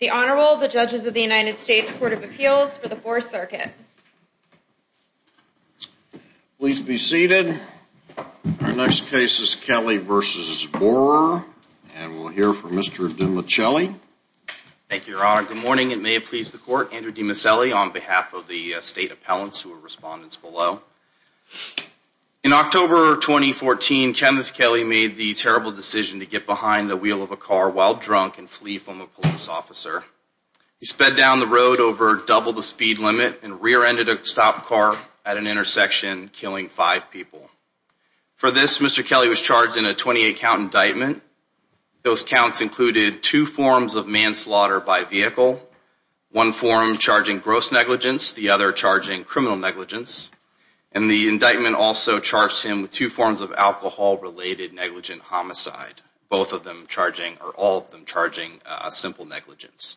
The Honorable, the Judges of the United States Court of Appeals for the 4th Circuit. Please be seated. Our next case is Kelley v. Bohrer. And we'll hear from Mr. DiMichele. Thank you, Your Honor. Good morning and may it please the Court. Andrew DiMichele on behalf of the State Appellants who are respondents below. In October 2014, Kenneth Kelley made the terrible decision to get behind the wheel of a car while drunk and flee from a police officer. He sped down the road over double the speed limit and rear-ended a stop car at an intersection, killing five people. For this, Mr. Kelley was charged in a 28-count indictment. Those counts included two forms of manslaughter by vehicle, one form charging gross negligence, the other charging criminal negligence. And the indictment also charged him with two forms of alcohol-related negligent homicide, both of them charging, or all of them charging, a simple negligence.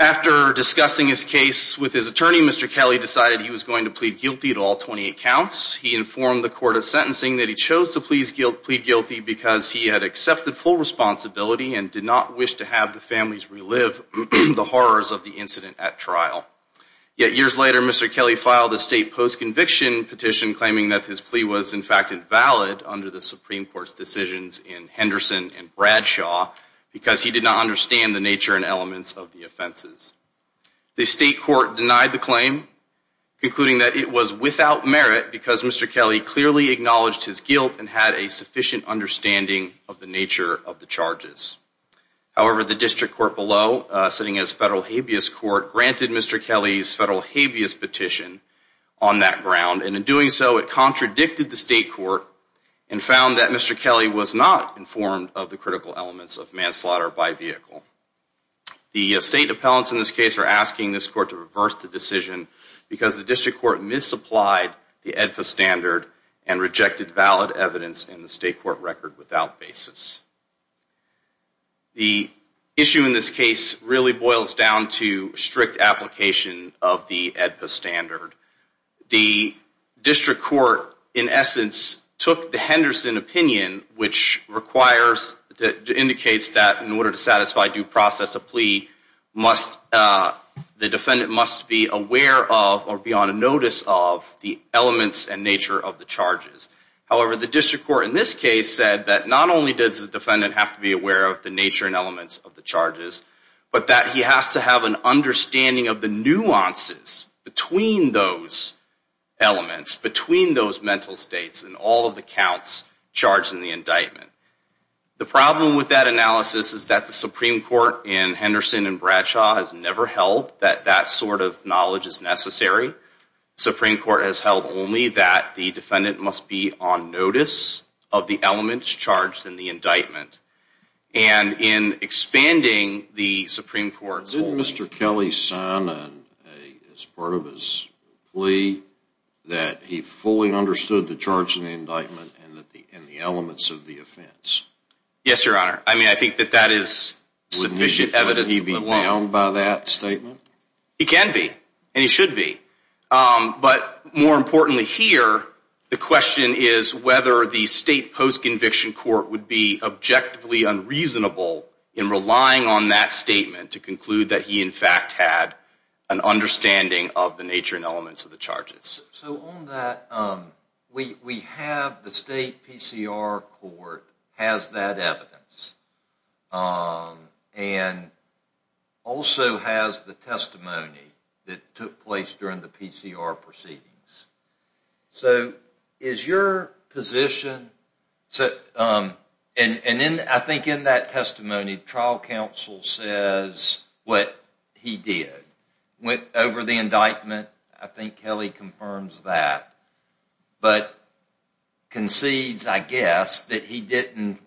After discussing his case with his attorney, Mr. Kelley decided he was going to plead guilty to all 28 counts. He informed the court of sentencing that he chose to plead guilty because he had accepted full responsibility and did not wish to have the families relive the horrors of the incident at trial. Yet years later, Mr. Kelley filed a state post-conviction petition claiming that his plea was in fact invalid under the Supreme Court's decisions in Henderson and Bradshaw because he did not understand the nature and elements of the offenses. The state court denied the claim, concluding that it was without merit because Mr. Kelley clearly acknowledged his guilt and had a sufficient understanding of the nature of the charges. However, the district court below, sitting as federal habeas court, granted Mr. Kelley's federal habeas petition on that ground, and in doing so, it contradicted the state court and found that Mr. Kelley was not informed of the critical elements of manslaughter by vehicle. The state appellants in this case are asking this court to reverse the decision because the district court misapplied the AEDPA standard and rejected valid evidence in the state court record without basis. The issue in this case really boils down to strict application of the AEDPA standard. The district court, in essence, took the Henderson opinion, which indicates that in order to satisfy due process, the defendant must be aware of or be on notice of the elements and nature of the charges. However, the district court in this case said that not only does the defendant have to be aware of the nature and elements of the charges, but that he has to have an understanding of the nuances between those elements, between those mental states, and all of the counts charged in the indictment. The problem with that analysis is that the Supreme Court in Henderson and Bradshaw has never held that that sort of knowledge is necessary. The Supreme Court has held only that the defendant must be on notice of the elements charged in the indictment. And in expanding the Supreme Court's... Did Mr. Kelly sign as part of his plea that he fully understood the charge in the indictment and the elements of the offense? Yes, Your Honor. I mean, I think that that is sufficient evidence. Would he be bound by that statement? He can be, and he should be. But more importantly here, the question is whether the state post-conviction court would be objectively unreasonable in relying on that statement to conclude that he in fact had an understanding of the nature and elements of the charges. So on that, we have the state PCR court has that evidence and also has the testimony that took place during the PCR proceedings. So is your position... And I think in that testimony, trial counsel says what he did. Went over the indictment. I think Kelly confirms that. But concedes, I guess, that he didn't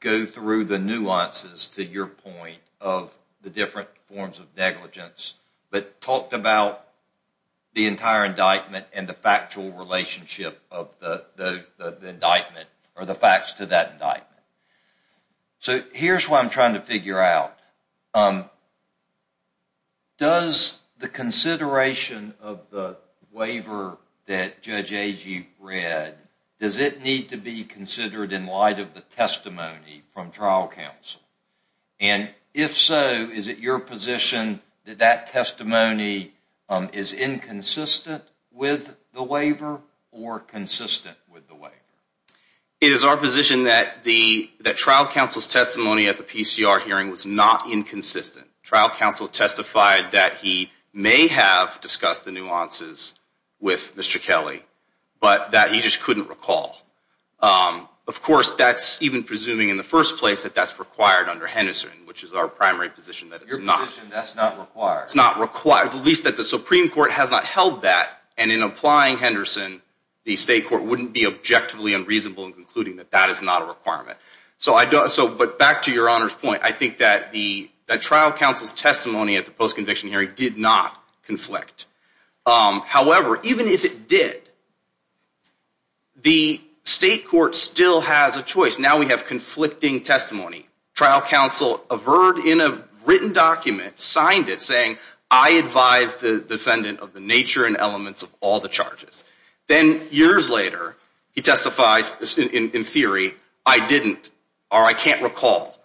go through the nuances to your point of the different forms of negligence but talked about the entire indictment and the factual relationship of the indictment or the facts to that indictment. So here's what I'm trying to figure out. Does the consideration of the waiver that Judge Agee read, does it need to be considered in light of the testimony from trial counsel? And if so, is it your position that that testimony is inconsistent with the waiver or consistent with the waiver? It is our position that trial counsel's testimony at the PCR hearing was not inconsistent. Trial counsel testified that he may have discussed the nuances with Mr. Kelly, but that he just couldn't recall. Of course, that's even presuming in the first place that that's required under Henderson, which is our primary position that it's not. Your position, that's not required. It's not required, at least that the Supreme Court has not held that. And in applying Henderson, the state court wouldn't be objectively unreasonable in concluding that that is not a requirement. But back to your Honor's point, I think that trial counsel's testimony at the post-conviction hearing did not conflict. However, even if it did, the state court still has a choice. Now we have conflicting testimony. Trial counsel averred in a written document, signed it, saying, I advise the defendant of the nature and elements of all the charges. Then years later, he testifies in theory, I didn't, or I can't recall.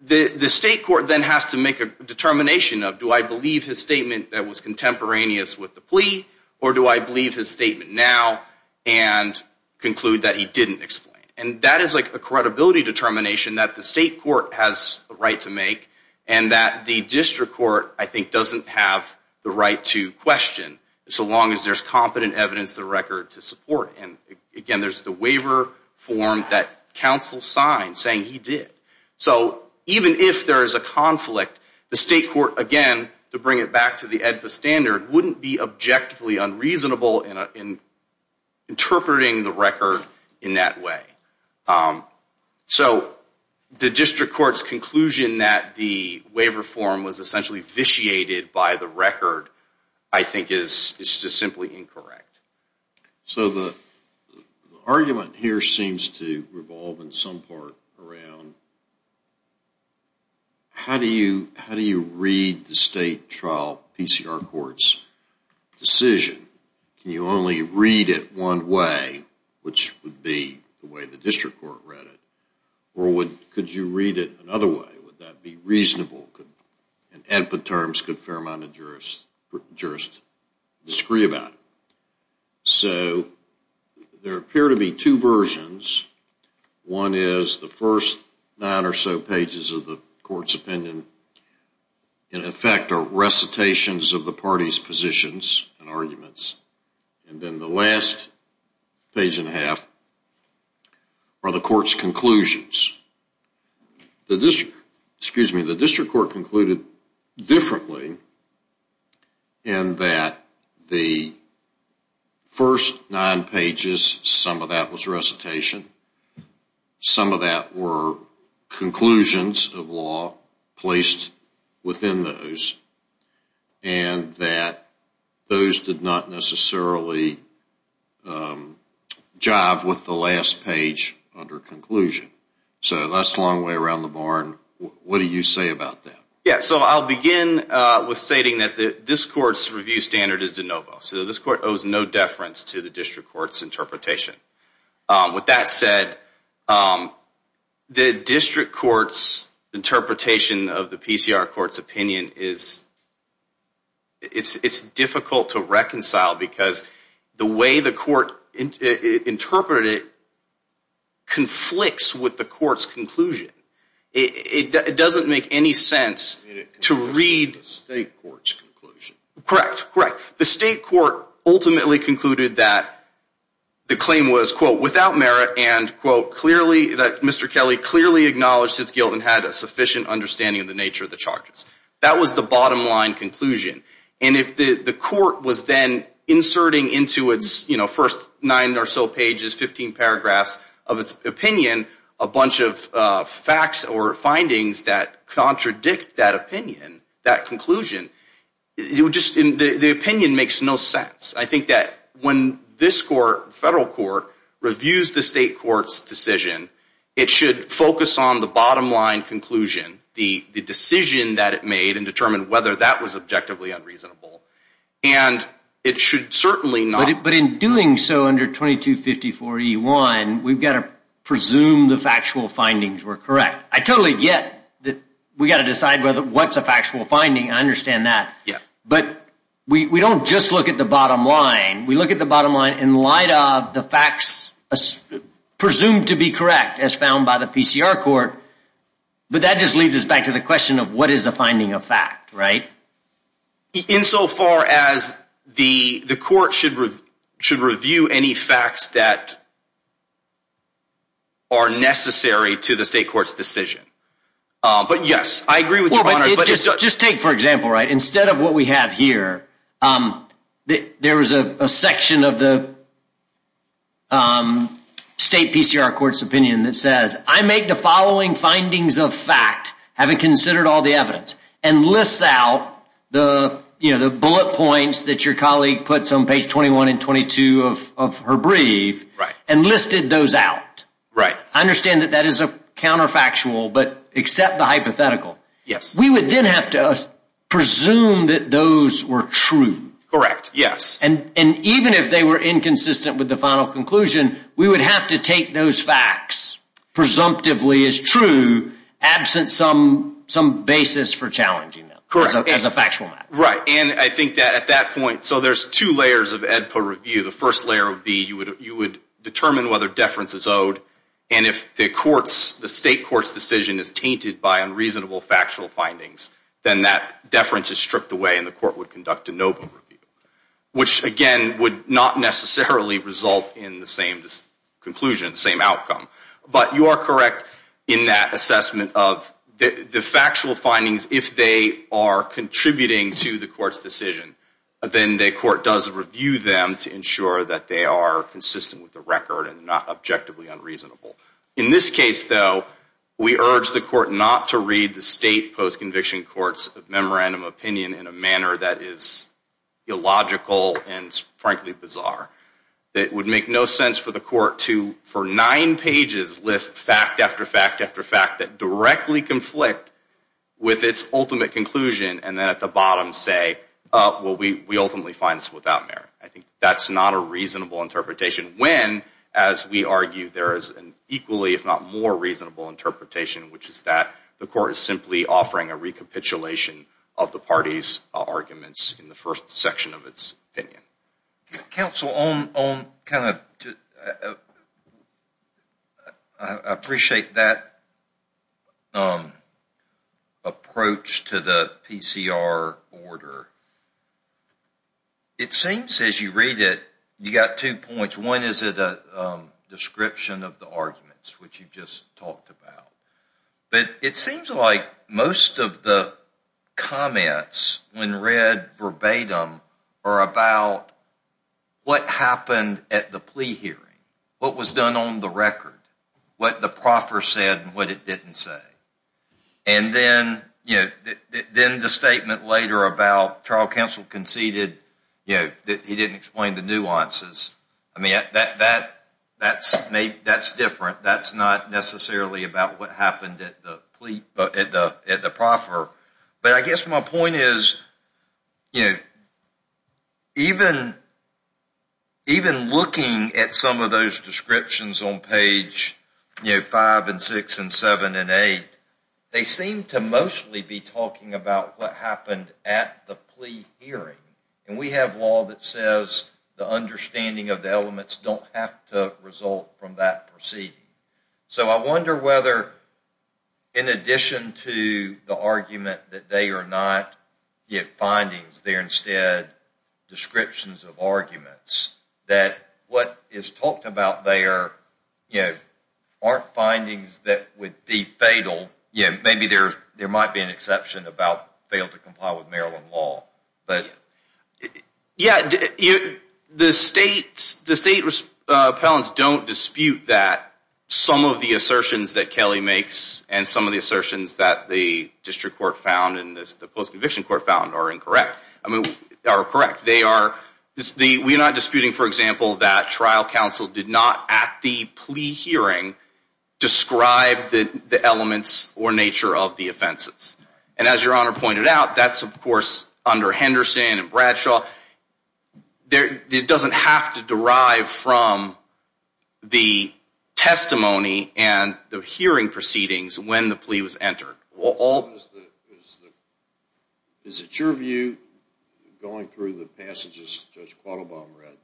The state court then has to make a determination of, do I believe his statement that was contemporaneous with the plea, or do I believe his statement now and conclude that he didn't explain? And that is a credibility determination that the state court has the right to make, and that the district court, I think, doesn't have the right to question, so long as there's competent evidence of the record to support. And again, there's the waiver form that counsel signed saying he did. So even if there is a conflict, the state court, again, to bring it back to the AEDPA standard, wouldn't be objectively unreasonable in interpreting the record in that way. So the district court's conclusion that the waiver form was essentially vitiated by the record, I think, is just simply incorrect. So the argument here seems to revolve in some part around, how do you read the state trial PCR court's decision? Can you only read it one way, which would be the way the district court read it? Or could you read it another way? Would that be reasonable? In AEDPA terms, could a fair amount of jurists disagree about it? So there appear to be two versions. One is the first nine or so pages of the court's opinion, in effect, are recitations of the parties' positions and arguments. And then the last page and a half are the court's conclusions. The district court concluded differently in that the first nine pages, some of that was recitation. Some of that were conclusions of law placed within those. And that those did not necessarily jive with the last page under conclusion. So that's a long way around the barn. What do you say about that? Yeah, so I'll begin with stating that this court's review standard is de novo. So this court owes no deference to the district court's interpretation. With that said, the district court's interpretation of the PCR court's opinion is difficult to reconcile because the way the court interpreted it conflicts with the court's conclusion. It doesn't make any sense to read. State court's conclusion. Correct, correct. The state court ultimately concluded that the claim was, quote, without merit and, quote, clearly, that Mr. Kelly clearly acknowledged his guilt and had a sufficient understanding of the nature of the charges. That was the bottom line conclusion. And if the court was then inserting into its, you know, first nine or so pages, 15 paragraphs of its opinion, a bunch of facts or findings that contradict that opinion, that conclusion, the opinion makes no sense. I think that when this court, the federal court, reviews the state court's decision, it should focus on the bottom line conclusion, the decision that it made, and determine whether that was objectively unreasonable. And it should certainly not. But in doing so under 2254E1, we've got to presume the factual findings were correct. I totally get that we've got to decide what's a factual finding. I understand that. But we don't just look at the bottom line. We look at the bottom line in light of the facts presumed to be correct as found by the PCR court. But that just leads us back to the question of what is a finding of fact, right? Insofar as the court should review any facts that are necessary to the state court's decision. But, yes, I agree with your honor. Just take, for example, right, instead of what we have here, there is a section of the state PCR court's opinion that says, I make the following findings of fact, having considered all the evidence, and lists out the bullet points that your colleague puts on page 21 and 22 of her brief, and listed those out. I understand that that is a counterfactual, but accept the hypothetical. Yes. We would then have to presume that those were true. Correct, yes. And even if they were inconsistent with the final conclusion, we would have to take those facts presumptively as true, absent some basis for challenging them as a factual matter. Right, and I think that at that point, so there's two layers of EDPA review. The first layer would be you would determine whether deference is owed, and if the state court's decision is tainted by unreasonable factual findings, then that deference is stripped away and the court would conduct a NOVA review, which, again, would not necessarily result in the same conclusion, the same outcome. But you are correct in that assessment of the factual findings, if they are contributing to the court's decision, then the court does review them to ensure that they are consistent with the record and not objectively unreasonable. In this case, though, we urge the court not to read the state postconviction court's memorandum opinion in a manner that is illogical and, frankly, bizarre. It would make no sense for the court to, for nine pages, list fact after fact after fact that directly conflict with its ultimate conclusion and then at the bottom say, well, we ultimately find this without merit. I think that's not a reasonable interpretation when, as we argue, there is an equally, if not more reasonable interpretation, which is that the court is simply offering a recapitulation of the party's arguments in the first section of its opinion. Counsel, I appreciate that approach to the PCR order. It seems, as you read it, you've got two points. One is a description of the arguments, which you just talked about. But it seems like most of the comments, when read verbatim, are about what happened at the plea hearing, what was done on the record, what the proffer said and what it didn't say. And then the statement later about trial counsel conceded that he didn't explain the nuances. That's different. That's not necessarily about what happened at the proffer. But I guess my point is, even looking at some of those descriptions on page 5 and 6 and 7 and 8, they seem to mostly be talking about what happened at the plea hearing. And we have law that says the understanding of the elements don't have to result from that proceeding. So I wonder whether, in addition to the argument that they are not yet findings, they are instead descriptions of arguments, that what is talked about there aren't findings that would be fatal. Maybe there might be an exception about fail to comply with Maryland law. The state appellants don't dispute that some of the assertions that Kelly makes and some of the assertions that the district court found and the post-conviction court found are incorrect. They are correct. We're not disputing, for example, that trial counsel did not, at the plea hearing, describe the elements or nature of the offenses. And as Your Honor pointed out, that's, of course, under Henderson and Bradshaw. It doesn't have to derive from the testimony and the hearing proceedings when the plea was entered. Is it your view, going through the passages Judge Quattlebaum read,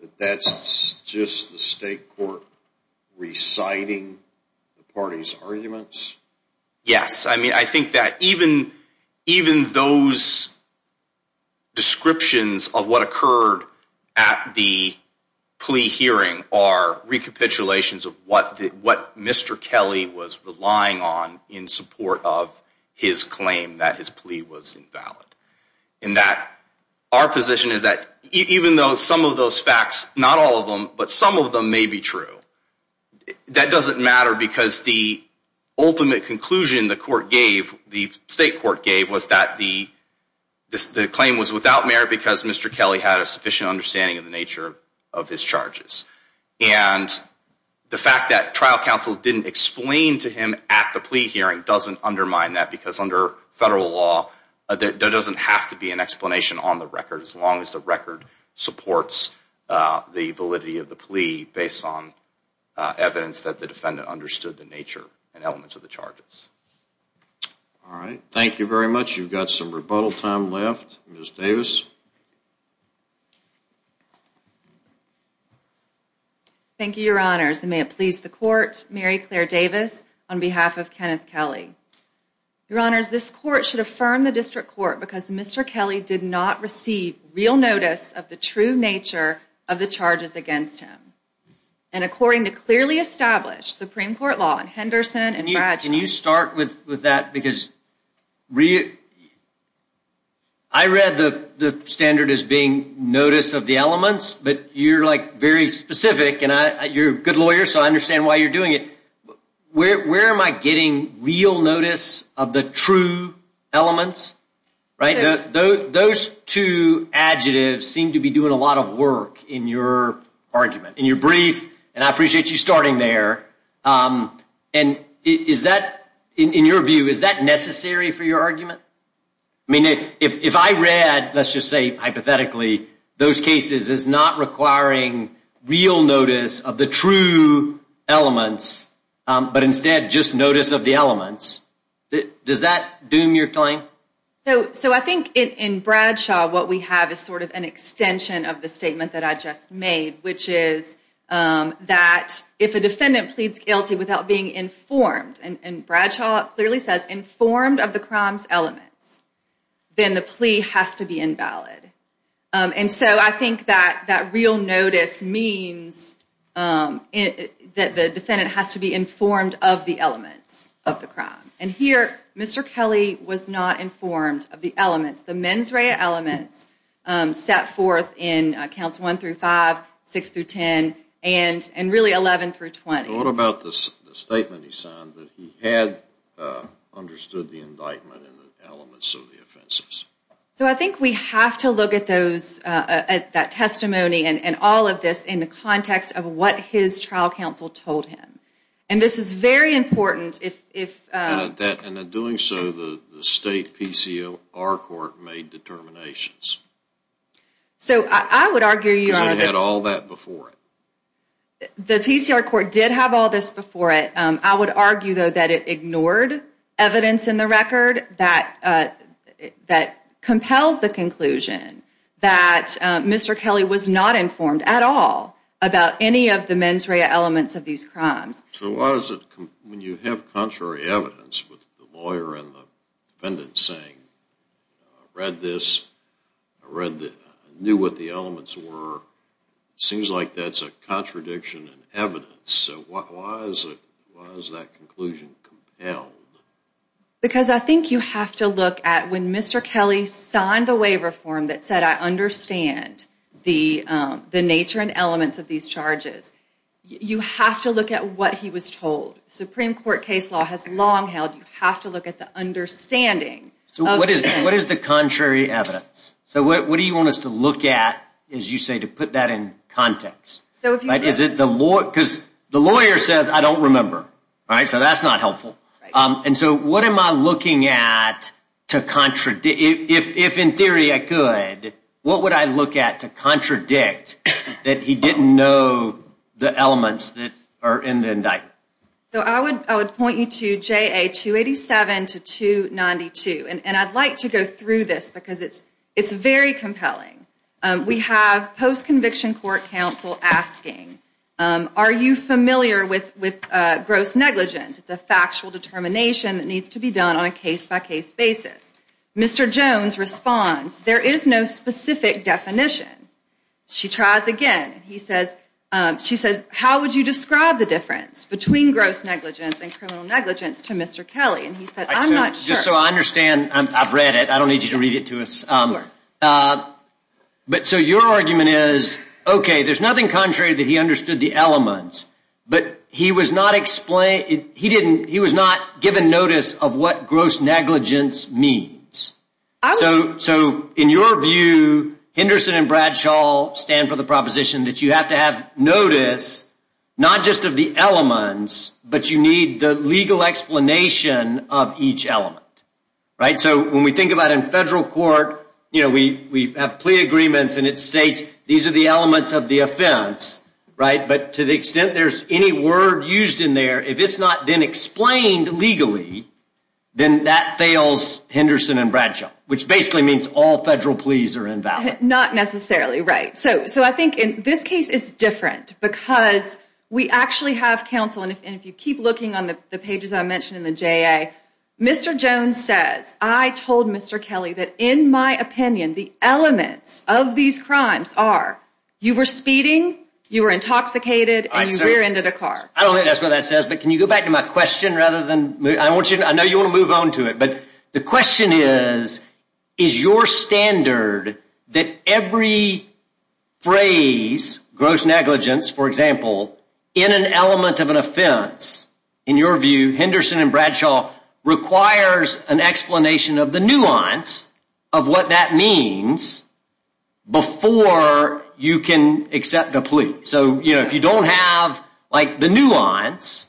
that that's just the state court reciting the party's arguments? Yes. I mean, I think that even those descriptions of what occurred at the plea hearing are recapitulations of what Mr. Kelly was relying on in support of his claim that his plea was invalid, in that our position is that even though some of those facts, not all of them, but some of them may be true, that doesn't matter because the ultimate conclusion the court gave, the state court gave, was that the claim was without merit because Mr. Kelly had a sufficient understanding of the nature of his charges. And the fact that trial counsel didn't explain to him at the plea hearing doesn't undermine that because under federal law, there doesn't have to be an explanation on the record as long as the record supports the validity of the plea based on evidence that the defendant understood the nature and elements of the charges. All right. Thank you very much. You've got some rebuttal time left. Ms. Davis. Thank you, Your Honors. And may it please the Court, Mary Claire Davis, on behalf of Kenneth Kelly. Your Honors, this Court should affirm the District Court because Mr. Kelly did not receive real notice of the true nature of the charges against him. And according to clearly established Supreme Court law in Henderson and Bradshaw. Can you start with that? Because I read the standard as being notice of the elements, but you're very specific and you're a good lawyer, so I understand why you're doing it. Where am I getting real notice of the true elements? Those two adjectives seem to be doing a lot of work in your argument, in your brief. And I appreciate you starting there. And is that, in your view, is that necessary for your argument? I mean, if I read, let's just say hypothetically, those cases as not requiring real notice of the true elements, but instead just notice of the elements, does that doom your claim? So I think in Bradshaw, what we have is sort of an extension of the statement that I just made, which is that if a defendant pleads guilty without being informed, and Bradshaw clearly says informed of the crime's elements, then the plea has to be invalid. And so I think that real notice means that the defendant has to be informed of the elements of the crime. And here, Mr. Kelly was not informed of the elements. The mens rea elements set forth in counts 1 through 5, 6 through 10, and really 11 through 20. What about the statement he signed that he had understood the indictment and the elements of the offenses? So I think we have to look at that testimony and all of this in the context of what his trial counsel told him. And this is very important. And in doing so, the state PCR court made determinations. So I would argue you are- Because it had all that before it. The PCR court did have all this before it. I would argue, though, that it ignored evidence in the record that compels the conclusion that Mr. Kelly was not informed at all about any of the mens rea elements of these crimes. So why does it- When you have contrary evidence with the lawyer and the defendant saying, I read this, I knew what the elements were, it seems like that's a contradiction in evidence. So why is that conclusion compelled? Because I think you have to look at when Mr. Kelly signed the waiver form that said, I understand the nature and elements of these charges. You have to look at what he was told. Supreme Court case law has long held you have to look at the understanding. So what is the contrary evidence? So what do you want us to look at, as you say, to put that in context? Because the lawyer says, I don't remember. So that's not helpful. And so what am I looking at to- If in theory I could, what would I look at to contradict that he didn't know the elements that are in the indictment? So I would point you to JA 287 to 292. And I'd like to go through this because it's very compelling. We have post-conviction court counsel asking, are you familiar with gross negligence? It's a factual determination that needs to be done on a case-by-case basis. Mr. Jones responds, there is no specific definition. She tries again. She says, how would you describe the difference between gross negligence and criminal negligence to Mr. Kelly? And he said, I'm not sure. Just so I understand, I've read it. I don't need you to read it to us. But so your argument is, OK, there's nothing contrary that he understood the elements. But he was not given notice of what gross negligence means. So in your view, Henderson and Bradshaw stand for the proposition that you have to have notice, not just of the elements, but you need the legal explanation of each element. So when we think about in federal court, we have plea agreements, and it states these are the elements of the offense. But to the extent there's any word used in there, if it's not been explained legally, then that fails Henderson and Bradshaw, which basically means all federal pleas are invalid. Not necessarily right. So I think in this case, it's different because we actually have counsel. And if you keep looking on the pages I mentioned in the JA, Mr. Jones says, I told Mr. Kelly that in my opinion, the elements of these crimes are you were speeding, you were intoxicated, and you rear-ended a car. I don't think that's what that says. But can you go back to my question? I know you want to move on to it. But the question is, is your standard that every phrase, gross negligence, for example, in an element of an offense, in your view, Henderson and Bradshaw, requires an explanation of the nuance of what that means before you can accept a plea? So if you don't have the nuance,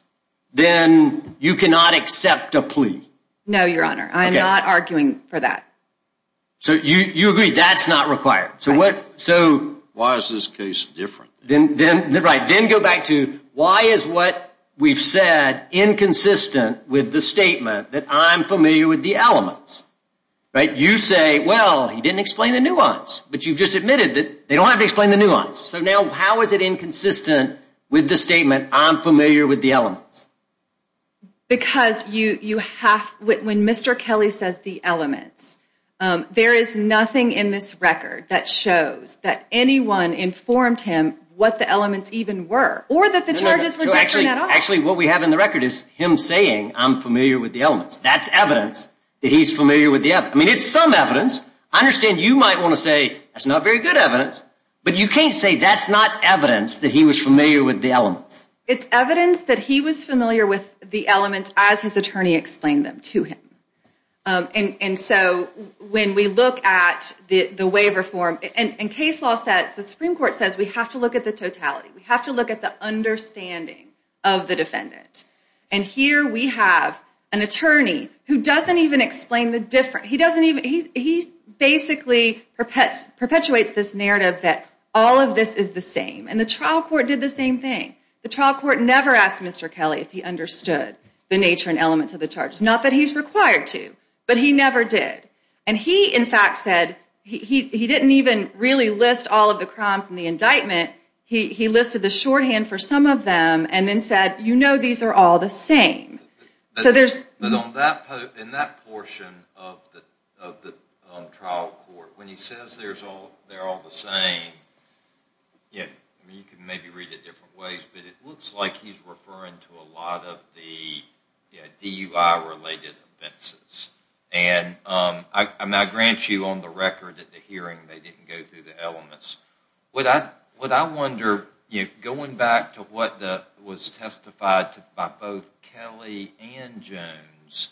then you cannot accept a plea. No, Your Honor. I'm not arguing for that. So you agree that's not required. So why is this case different? Then go back to why is what we've said inconsistent with the statement that I'm familiar with the elements? You say, well, he didn't explain the nuance. But you've just admitted that they don't have to explain the nuance. So now how is it inconsistent with the statement, I'm familiar with the elements? Because when Mr. Kelly says the elements, there is nothing in this record that shows that anyone informed him what the elements even were. Or that the charges were different at all. Actually, what we have in the record is him saying, I'm familiar with the elements. That's evidence that he's familiar with the elements. I mean, it's some evidence. I understand you might want to say, that's not very good evidence. But you can't say that's not evidence that he was familiar with the elements. It's evidence that he was familiar with the elements as his attorney explained them to him. And so when we look at the waiver form, in case law sets, the Supreme Court says we have to look at the totality. We have to look at the understanding of the defendant. And here we have an attorney who doesn't even explain the difference. He basically perpetuates this narrative that all of this is the same. And the trial court did the same thing. The trial court never asked Mr. Kelly if he understood the nature and elements of the charges. Not that he's required to. But he never did. And he, in fact, said, he didn't even really list all of the crimes in the indictment. He listed the shorthand for some of them and then said, you know these are all the same. But in that portion of the trial court, when he says they're all the same, you can maybe read it different ways, but it looks like he's referring to a lot of the DUI-related offenses. And I grant you on the record at the hearing they didn't go through the elements. What I wonder, going back to what was testified by both Kelly and Jones,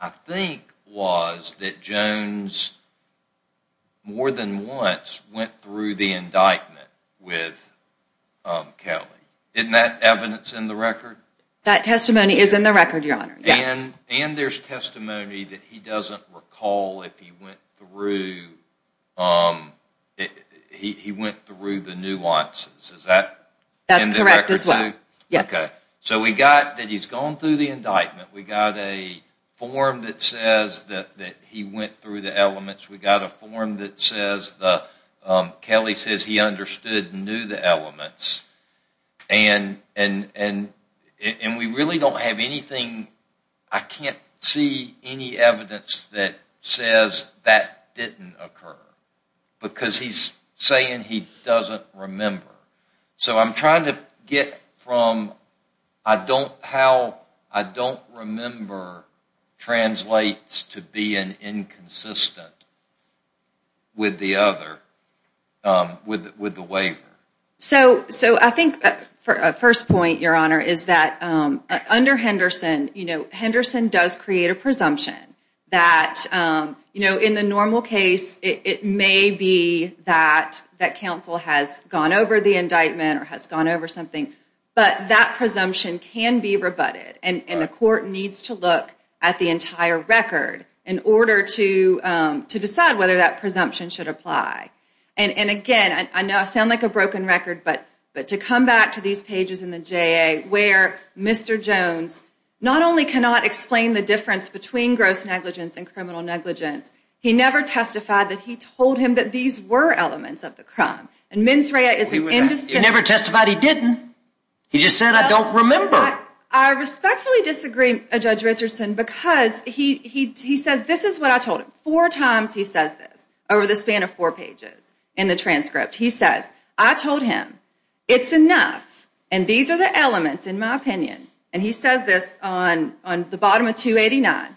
I think was that Jones more than once went through the indictment with Kelly. Isn't that evidence in the record? That testimony is in the record, Your Honor, yes. And there's testimony that he doesn't recall if he went through the nuances. Is that in the record too? That's correct as well, yes. So we got that he's gone through the indictment. We got a form that says that he went through the elements. We got a form that says, Kelly says he understood and knew the elements. And we really don't have anything, I can't see any evidence that says that didn't occur. Because he's saying he doesn't remember. So I'm trying to get from how I don't remember translates to being inconsistent with the waiver. So I think the first point, Your Honor, is that under Henderson, Henderson does create a presumption that in the normal case it may be that counsel has gone over the indictment or has gone over something. But that presumption can be rebutted and the court needs to look at the entire record in order to decide whether that presumption should apply. And again, I know I sound like a broken record, but to come back to these pages in the J.A. where Mr. Jones not only cannot explain the difference between gross negligence and criminal negligence, he never testified that he told him that these were elements of the crime. You never testified he didn't. He just said I don't remember. I respectfully disagree, Judge Richardson, because he says this is what I told him. Four times he says this over the span of four pages in the transcript. He says I told him it's enough and these are the elements in my opinion. And he says this on the bottom of 289.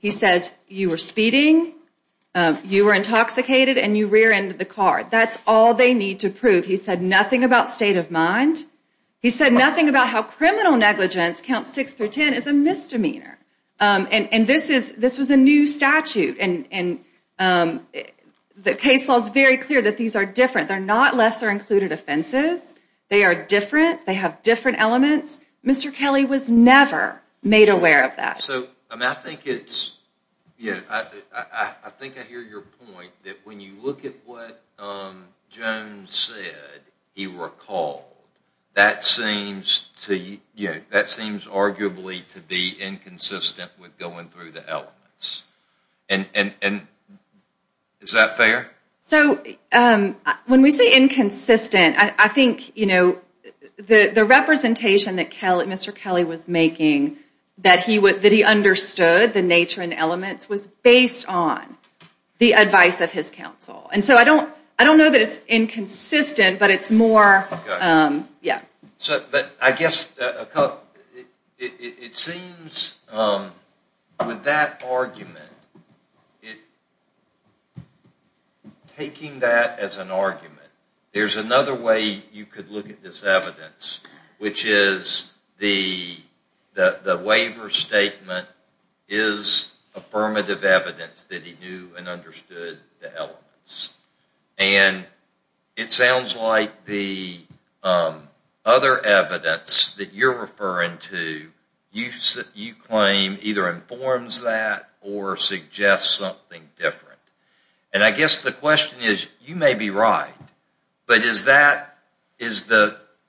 He says you were speeding, you were intoxicated, and you rear-ended the car. That's all they need to prove. He said nothing about state of mind. He said nothing about how criminal negligence, Counts 6 through 10, is a misdemeanor. And this was a new statute. And the case law is very clear that these are different. They're not lesser included offenses. They are different. They have different elements. Mr. Kelly was never made aware of that. I think I hear your point that when you look at what Jones said, he recalled, that seems arguably to be inconsistent with going through the elements. Is that fair? When we say inconsistent, I think the representation that Mr. Kelly was making that he understood the nature and elements was based on the advice of his counsel. And so I don't know that it's inconsistent, but it's more, yeah. But I guess it seems with that argument, taking that as an argument, there's another way you could look at this evidence, which is the waiver statement is affirmative evidence that he knew and understood the elements. And it sounds like the other evidence that you're referring to, you claim either informs that or suggests something different. And I guess the question is, you may be right, but is the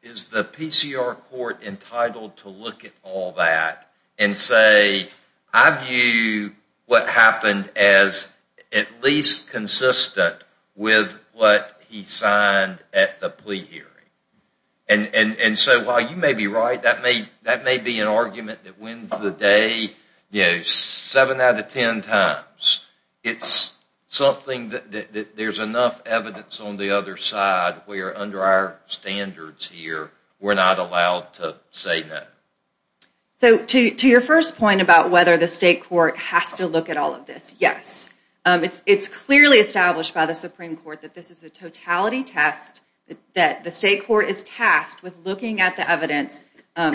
PCR court entitled to look at all that and say, I view what happened as at least consistent with what he signed at the plea hearing? And so while you may be right, that may be an argument that wins the day, seven out of ten times. It's something that there's enough evidence on the other side where under our standards here, we're not allowed to say no. So to your first point about whether the state court has to look at all of this, yes. It's clearly established by the Supreme Court that this is a totality test, that the state court is tasked with looking at the evidence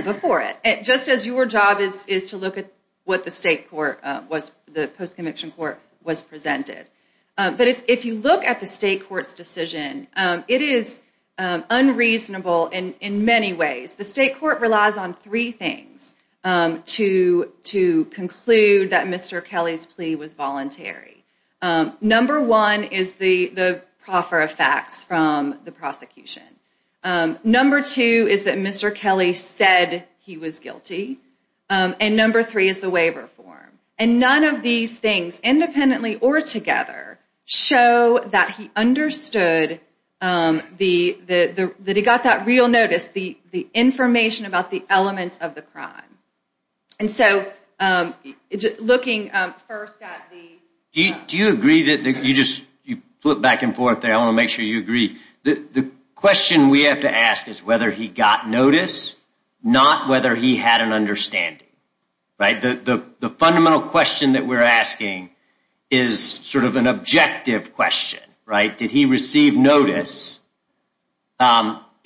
before it. Just as your job is to look at what the state court was, the post-conviction court was presented. But if you look at the state court's decision, it is unreasonable in many ways. The state court relies on three things to conclude that Mr. Kelly's plea was voluntary. Number one is the proffer of facts from the prosecution. Number two is that Mr. Kelly said he was guilty. And number three is the waiver form. And none of these things, independently or together, show that he understood that he got that real notice, the information about the elements of the crime. And so looking first at the... Do you agree that you just flip back and forth there? I want to make sure you agree. The question we have to ask is whether he got notice, not whether he had an understanding. The fundamental question that we're asking is sort of an objective question. Did he receive notice?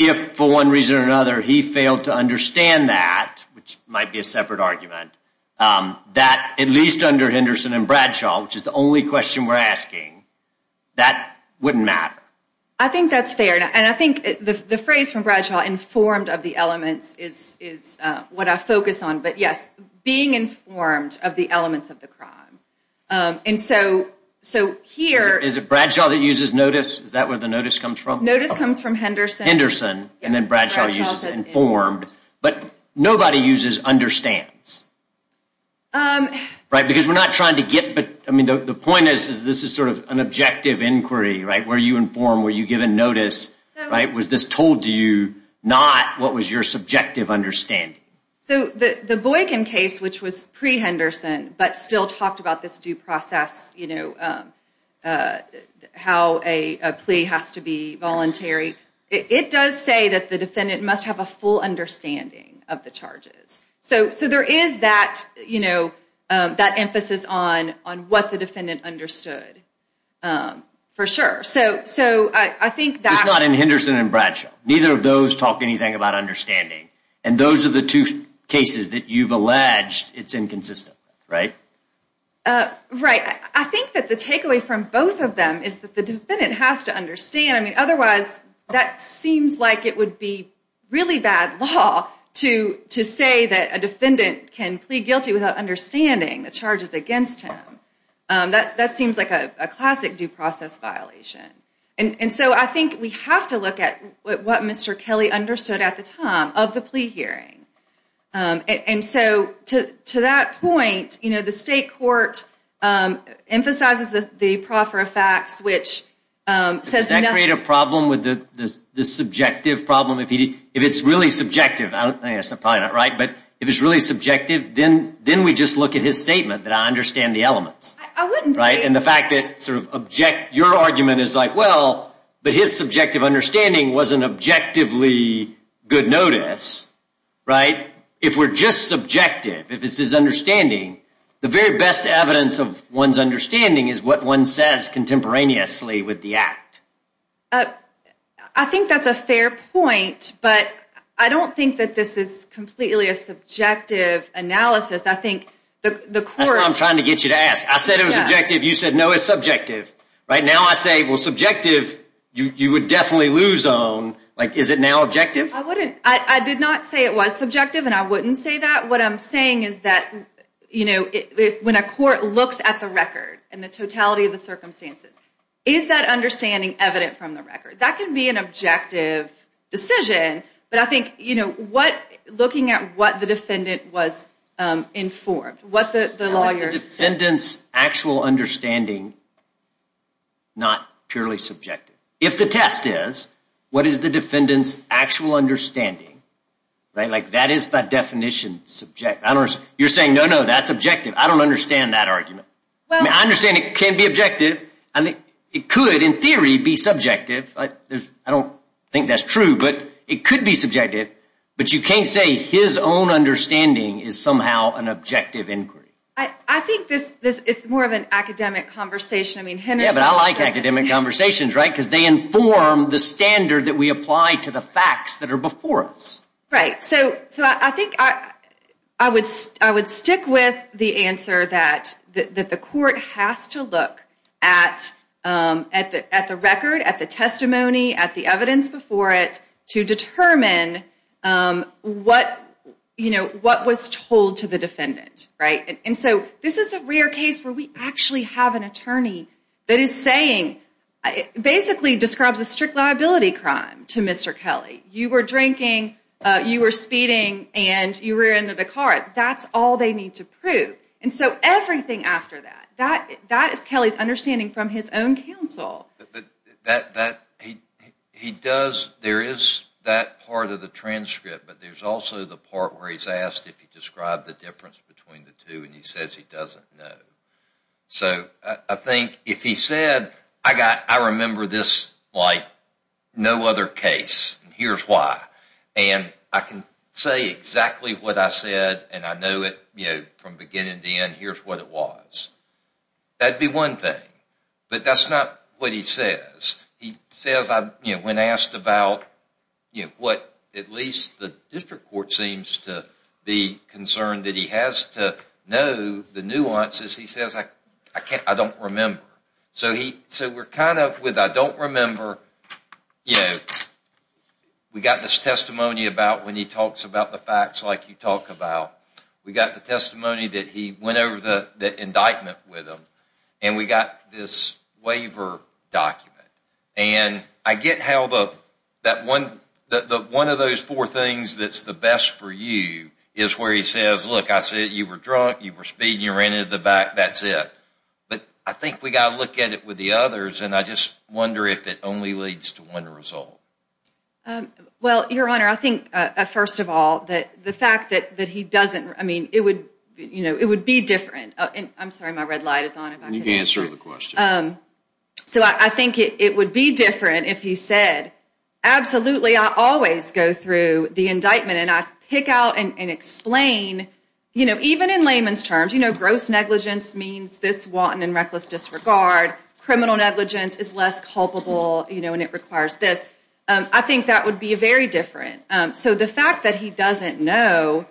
If, for one reason or another, he failed to understand that, which might be a separate argument, that, at least under Henderson and Bradshaw, which is the only question we're asking, that wouldn't matter. I think that's fair. And I think the phrase from Bradshaw, informed of the elements, is what I focus on. But yes, being informed of the elements of the crime. And so here... Is it Bradshaw that uses notice? Is that where the notice comes from? Notice comes from Henderson. Henderson. And then Bradshaw uses informed. But nobody uses understands. Right? Because we're not trying to get... I mean, the point is this is sort of an objective inquiry, right? Were you informed? Were you given notice? Was this told to you? Not, what was your subjective understanding? So the Boykin case, which was pre-Henderson, but still talked about this due process, how a plea has to be voluntary, it does say that the defendant must have a full understanding of the charges. So there is that emphasis on what the defendant understood, for sure. So I think that... It's not in Henderson and Bradshaw. Neither of those talk anything about understanding. And those are the two cases that you've alleged it's inconsistent, right? Right. I think that the takeaway from both of them is that the defendant has to understand. I mean, otherwise, that seems like it would be really bad law to say that a defendant can plead guilty without understanding the charges against him. That seems like a classic due process violation. And so I think we have to look at what Mr. Kelly understood at the time of the plea hearing. And so to that point, you know, the state court emphasizes the proffer of facts, which says... Does that create a problem with the subjective problem? If it's really subjective, I guess I'm probably not right, but if it's really subjective, then we just look at his statement that I understand the elements. I wouldn't say... And the fact that your argument is like, well, but his subjective understanding wasn't objectively good notice, right? If we're just subjective, if it's his understanding, the very best evidence of one's understanding is what one says contemporaneously with the act. I think that's a fair point, but I don't think that this is completely a subjective analysis. I think the court... That's what I'm trying to get you to ask. I said it was objective. You said, no, it's subjective. Right now I say, well, subjective, you would definitely lose on, like, is it now objective? I did not say it was subjective, and I wouldn't say that. What I'm saying is that, you know, when a court looks at the record and the totality of the circumstances, is that understanding evident from the record? That can be an objective decision, but I think, you know, looking at what the defendant was informed, what the lawyer said... How is the defendant's actual understanding not purely subjective? If the test is, what is the defendant's actual understanding? Like, that is by definition subjective. You're saying, no, no, that's objective. I don't understand that argument. I understand it can be objective. It could, in theory, be subjective. I don't think that's true, but it could be subjective. But you can't say his own understanding is somehow an objective inquiry. I think it's more of an academic conversation. Yeah, but I like academic conversations, right? Because they inform the standard that we apply to the facts that are before us. Right, so I think I would stick with the answer that the court has to look at the record, at the testimony, at the evidence before it, to determine what was told to the defendant, right? And so this is a rare case where we actually have an attorney that is saying, basically describes a strict liability crime to Mr. Kelly. You were drinking, you were speeding, and you rear-ended a car. That's all they need to prove. And so everything after that, that is Kelly's understanding from his own counsel. But that, he does, there is that part of the transcript, but there's also the part where he's asked if he described the difference between the two, and he says he doesn't know. So I think if he said, I remember this like no other case, and here's why. And I can say exactly what I said, and I know it from beginning to end. Here's what it was. That would be one thing. But that's not what he says. He says, when asked about what at least the district court seems to be concerned, that he has to know the nuances. He says, I don't remember. So we're kind of with, I don't remember. We got this testimony about when he talks about the facts like you talk about. We got the testimony that he went over the indictment with him, and we got this waiver document. And I get how one of those four things that's the best for you is where he says, look, I said you were drunk, you were speeding, you ran into the back, that's it. But I think we've got to look at it with the others, and I just wonder if it only leads to one result. Well, Your Honor, I think, first of all, the fact that he doesn't, I mean, it would be different. I'm sorry, my red light is on. You can answer the question. So I think it would be different if he said, absolutely, I always go through the indictment, and I pick out and explain, you know, even in layman's terms, you know, gross negligence means this wanton and reckless disregard. Criminal negligence is less culpable, you know, and it requires this. I think that would be very different. So the fact that he doesn't know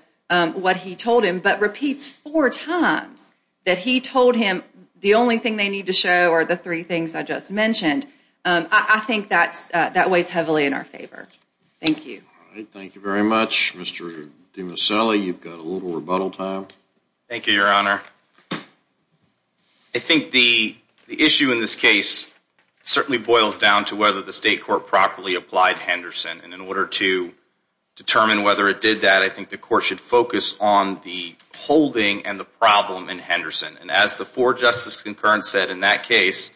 what he told him but repeats four times that he told him the only thing they need to show are the three things I just mentioned, I think that weighs heavily in our favor. Thank you. All right, thank you very much. Mr. DiMasselli, you've got a little rebuttal time. Thank you, Your Honor. I think the issue in this case certainly boils down to whether the state court properly applied Henderson, and in order to determine whether it did that, I think the court should focus on the holding and the problem in Henderson. And as the four-justice concurrence said in that case,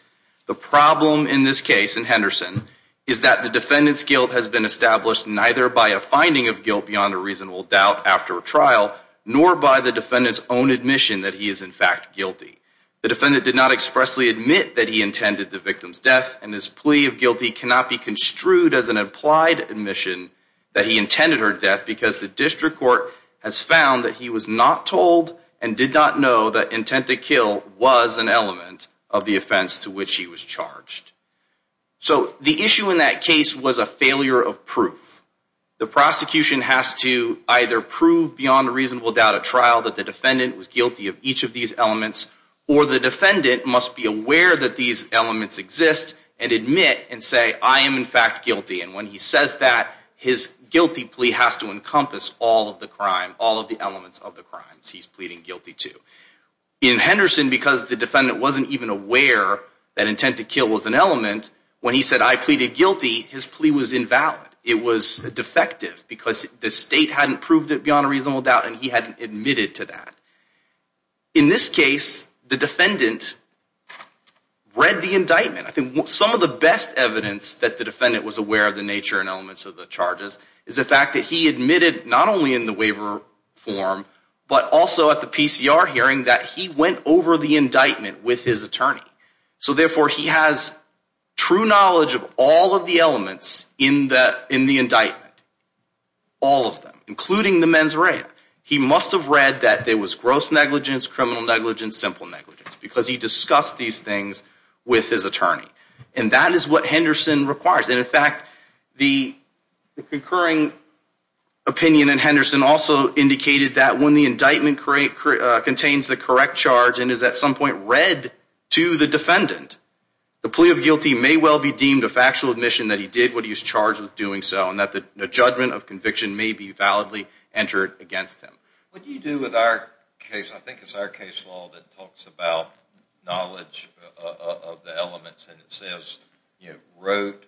the problem in this case, in Henderson, is that the defendant's guilt has been established neither by a finding of guilt beyond a reasonable doubt after a trial, nor by the defendant's own admission that he is, in fact, guilty. The defendant did not expressly admit that he intended the victim's death, and his plea of guilty cannot be construed as an implied admission that he intended her death because the district court has found that he was not told and did not know that intent to kill was an element of the offense to which he was charged. So the issue in that case was a failure of proof. The prosecution has to either prove beyond a reasonable doubt at trial that the defendant was guilty of each of these elements, or the defendant must be aware that these elements exist and admit and say, I am, in fact, guilty. And when he says that, his guilty plea has to encompass all of the crime, all of the elements of the crimes he's pleading guilty to. In Henderson, because the defendant wasn't even aware that intent to kill was an element, when he said, I pleaded guilty, his plea was invalid. It was defective because the state hadn't proved it beyond a reasonable doubt, and he hadn't admitted to that. In this case, the defendant read the indictment. I think some of the best evidence that the defendant was aware of the nature and elements of the charges is the fact that he admitted not only in the waiver form, but also at the PCR hearing that he went over the indictment with his attorney. So, therefore, he has true knowledge of all of the elements in the indictment, all of them, including the mens rea. He must have read that there was gross negligence, criminal negligence, simple negligence, because he discussed these things with his attorney. And that is what Henderson requires. And, in fact, the concurring opinion in Henderson also indicated that when the indictment contains the correct charge and is, at some point, read to the defendant, the plea of guilty may well be deemed a factual admission that he did what he was charged with doing so, and that the judgment of conviction may be validly entered against him. What do you do with our case? I think it's our case law that talks about knowledge of the elements, and it says, you know, rote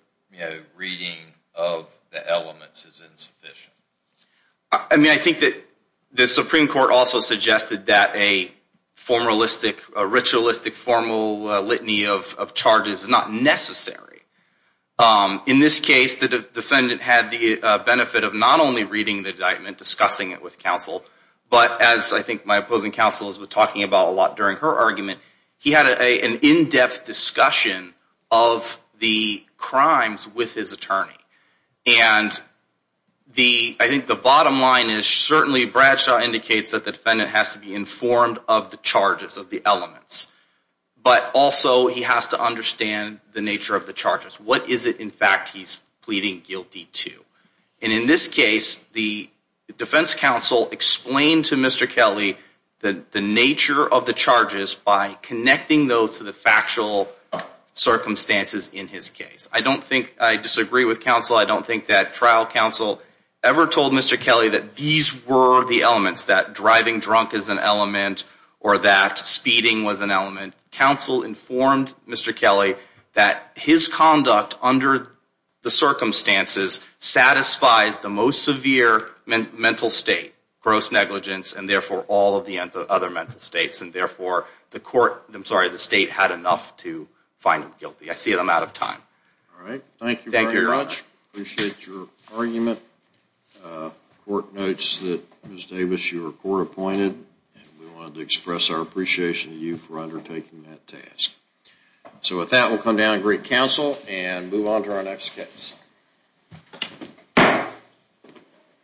reading of the elements is insufficient. I mean, I think that the Supreme Court also suggested that a formalistic, ritualistic, formal litany of charges is not necessary. In this case, the defendant had the benefit of not only reading the indictment, discussing it with counsel, but, as I think my opposing counsel has been talking about a lot during her argument, he had an in-depth discussion of the crimes with his attorney. And I think the bottom line is certainly Bradshaw indicates that the defendant has to be informed of the charges, of the elements, but also he has to understand the nature of the charges. What is it, in fact, he's pleading guilty to? And, in this case, the defense counsel explained to Mr. Kelly the nature of the charges by connecting those to the factual circumstances in his case. I don't think I disagree with counsel. I don't think that trial counsel ever told Mr. Kelly that these were the elements, that driving drunk is an element or that speeding was an element. Counsel informed Mr. Kelly that his conduct under the circumstances satisfies the most severe mental state, gross negligence, and, therefore, all of the other mental states. And, therefore, the state had enough to find him guilty. I see that I'm out of time. All right. Thank you very much. Thank you, Your Honor. Appreciate your argument. The court notes that, Ms. Davis, you were court-appointed, and we wanted to express our appreciation to you for undertaking that task. So, with that, we'll come down and greet counsel and move on to our next case.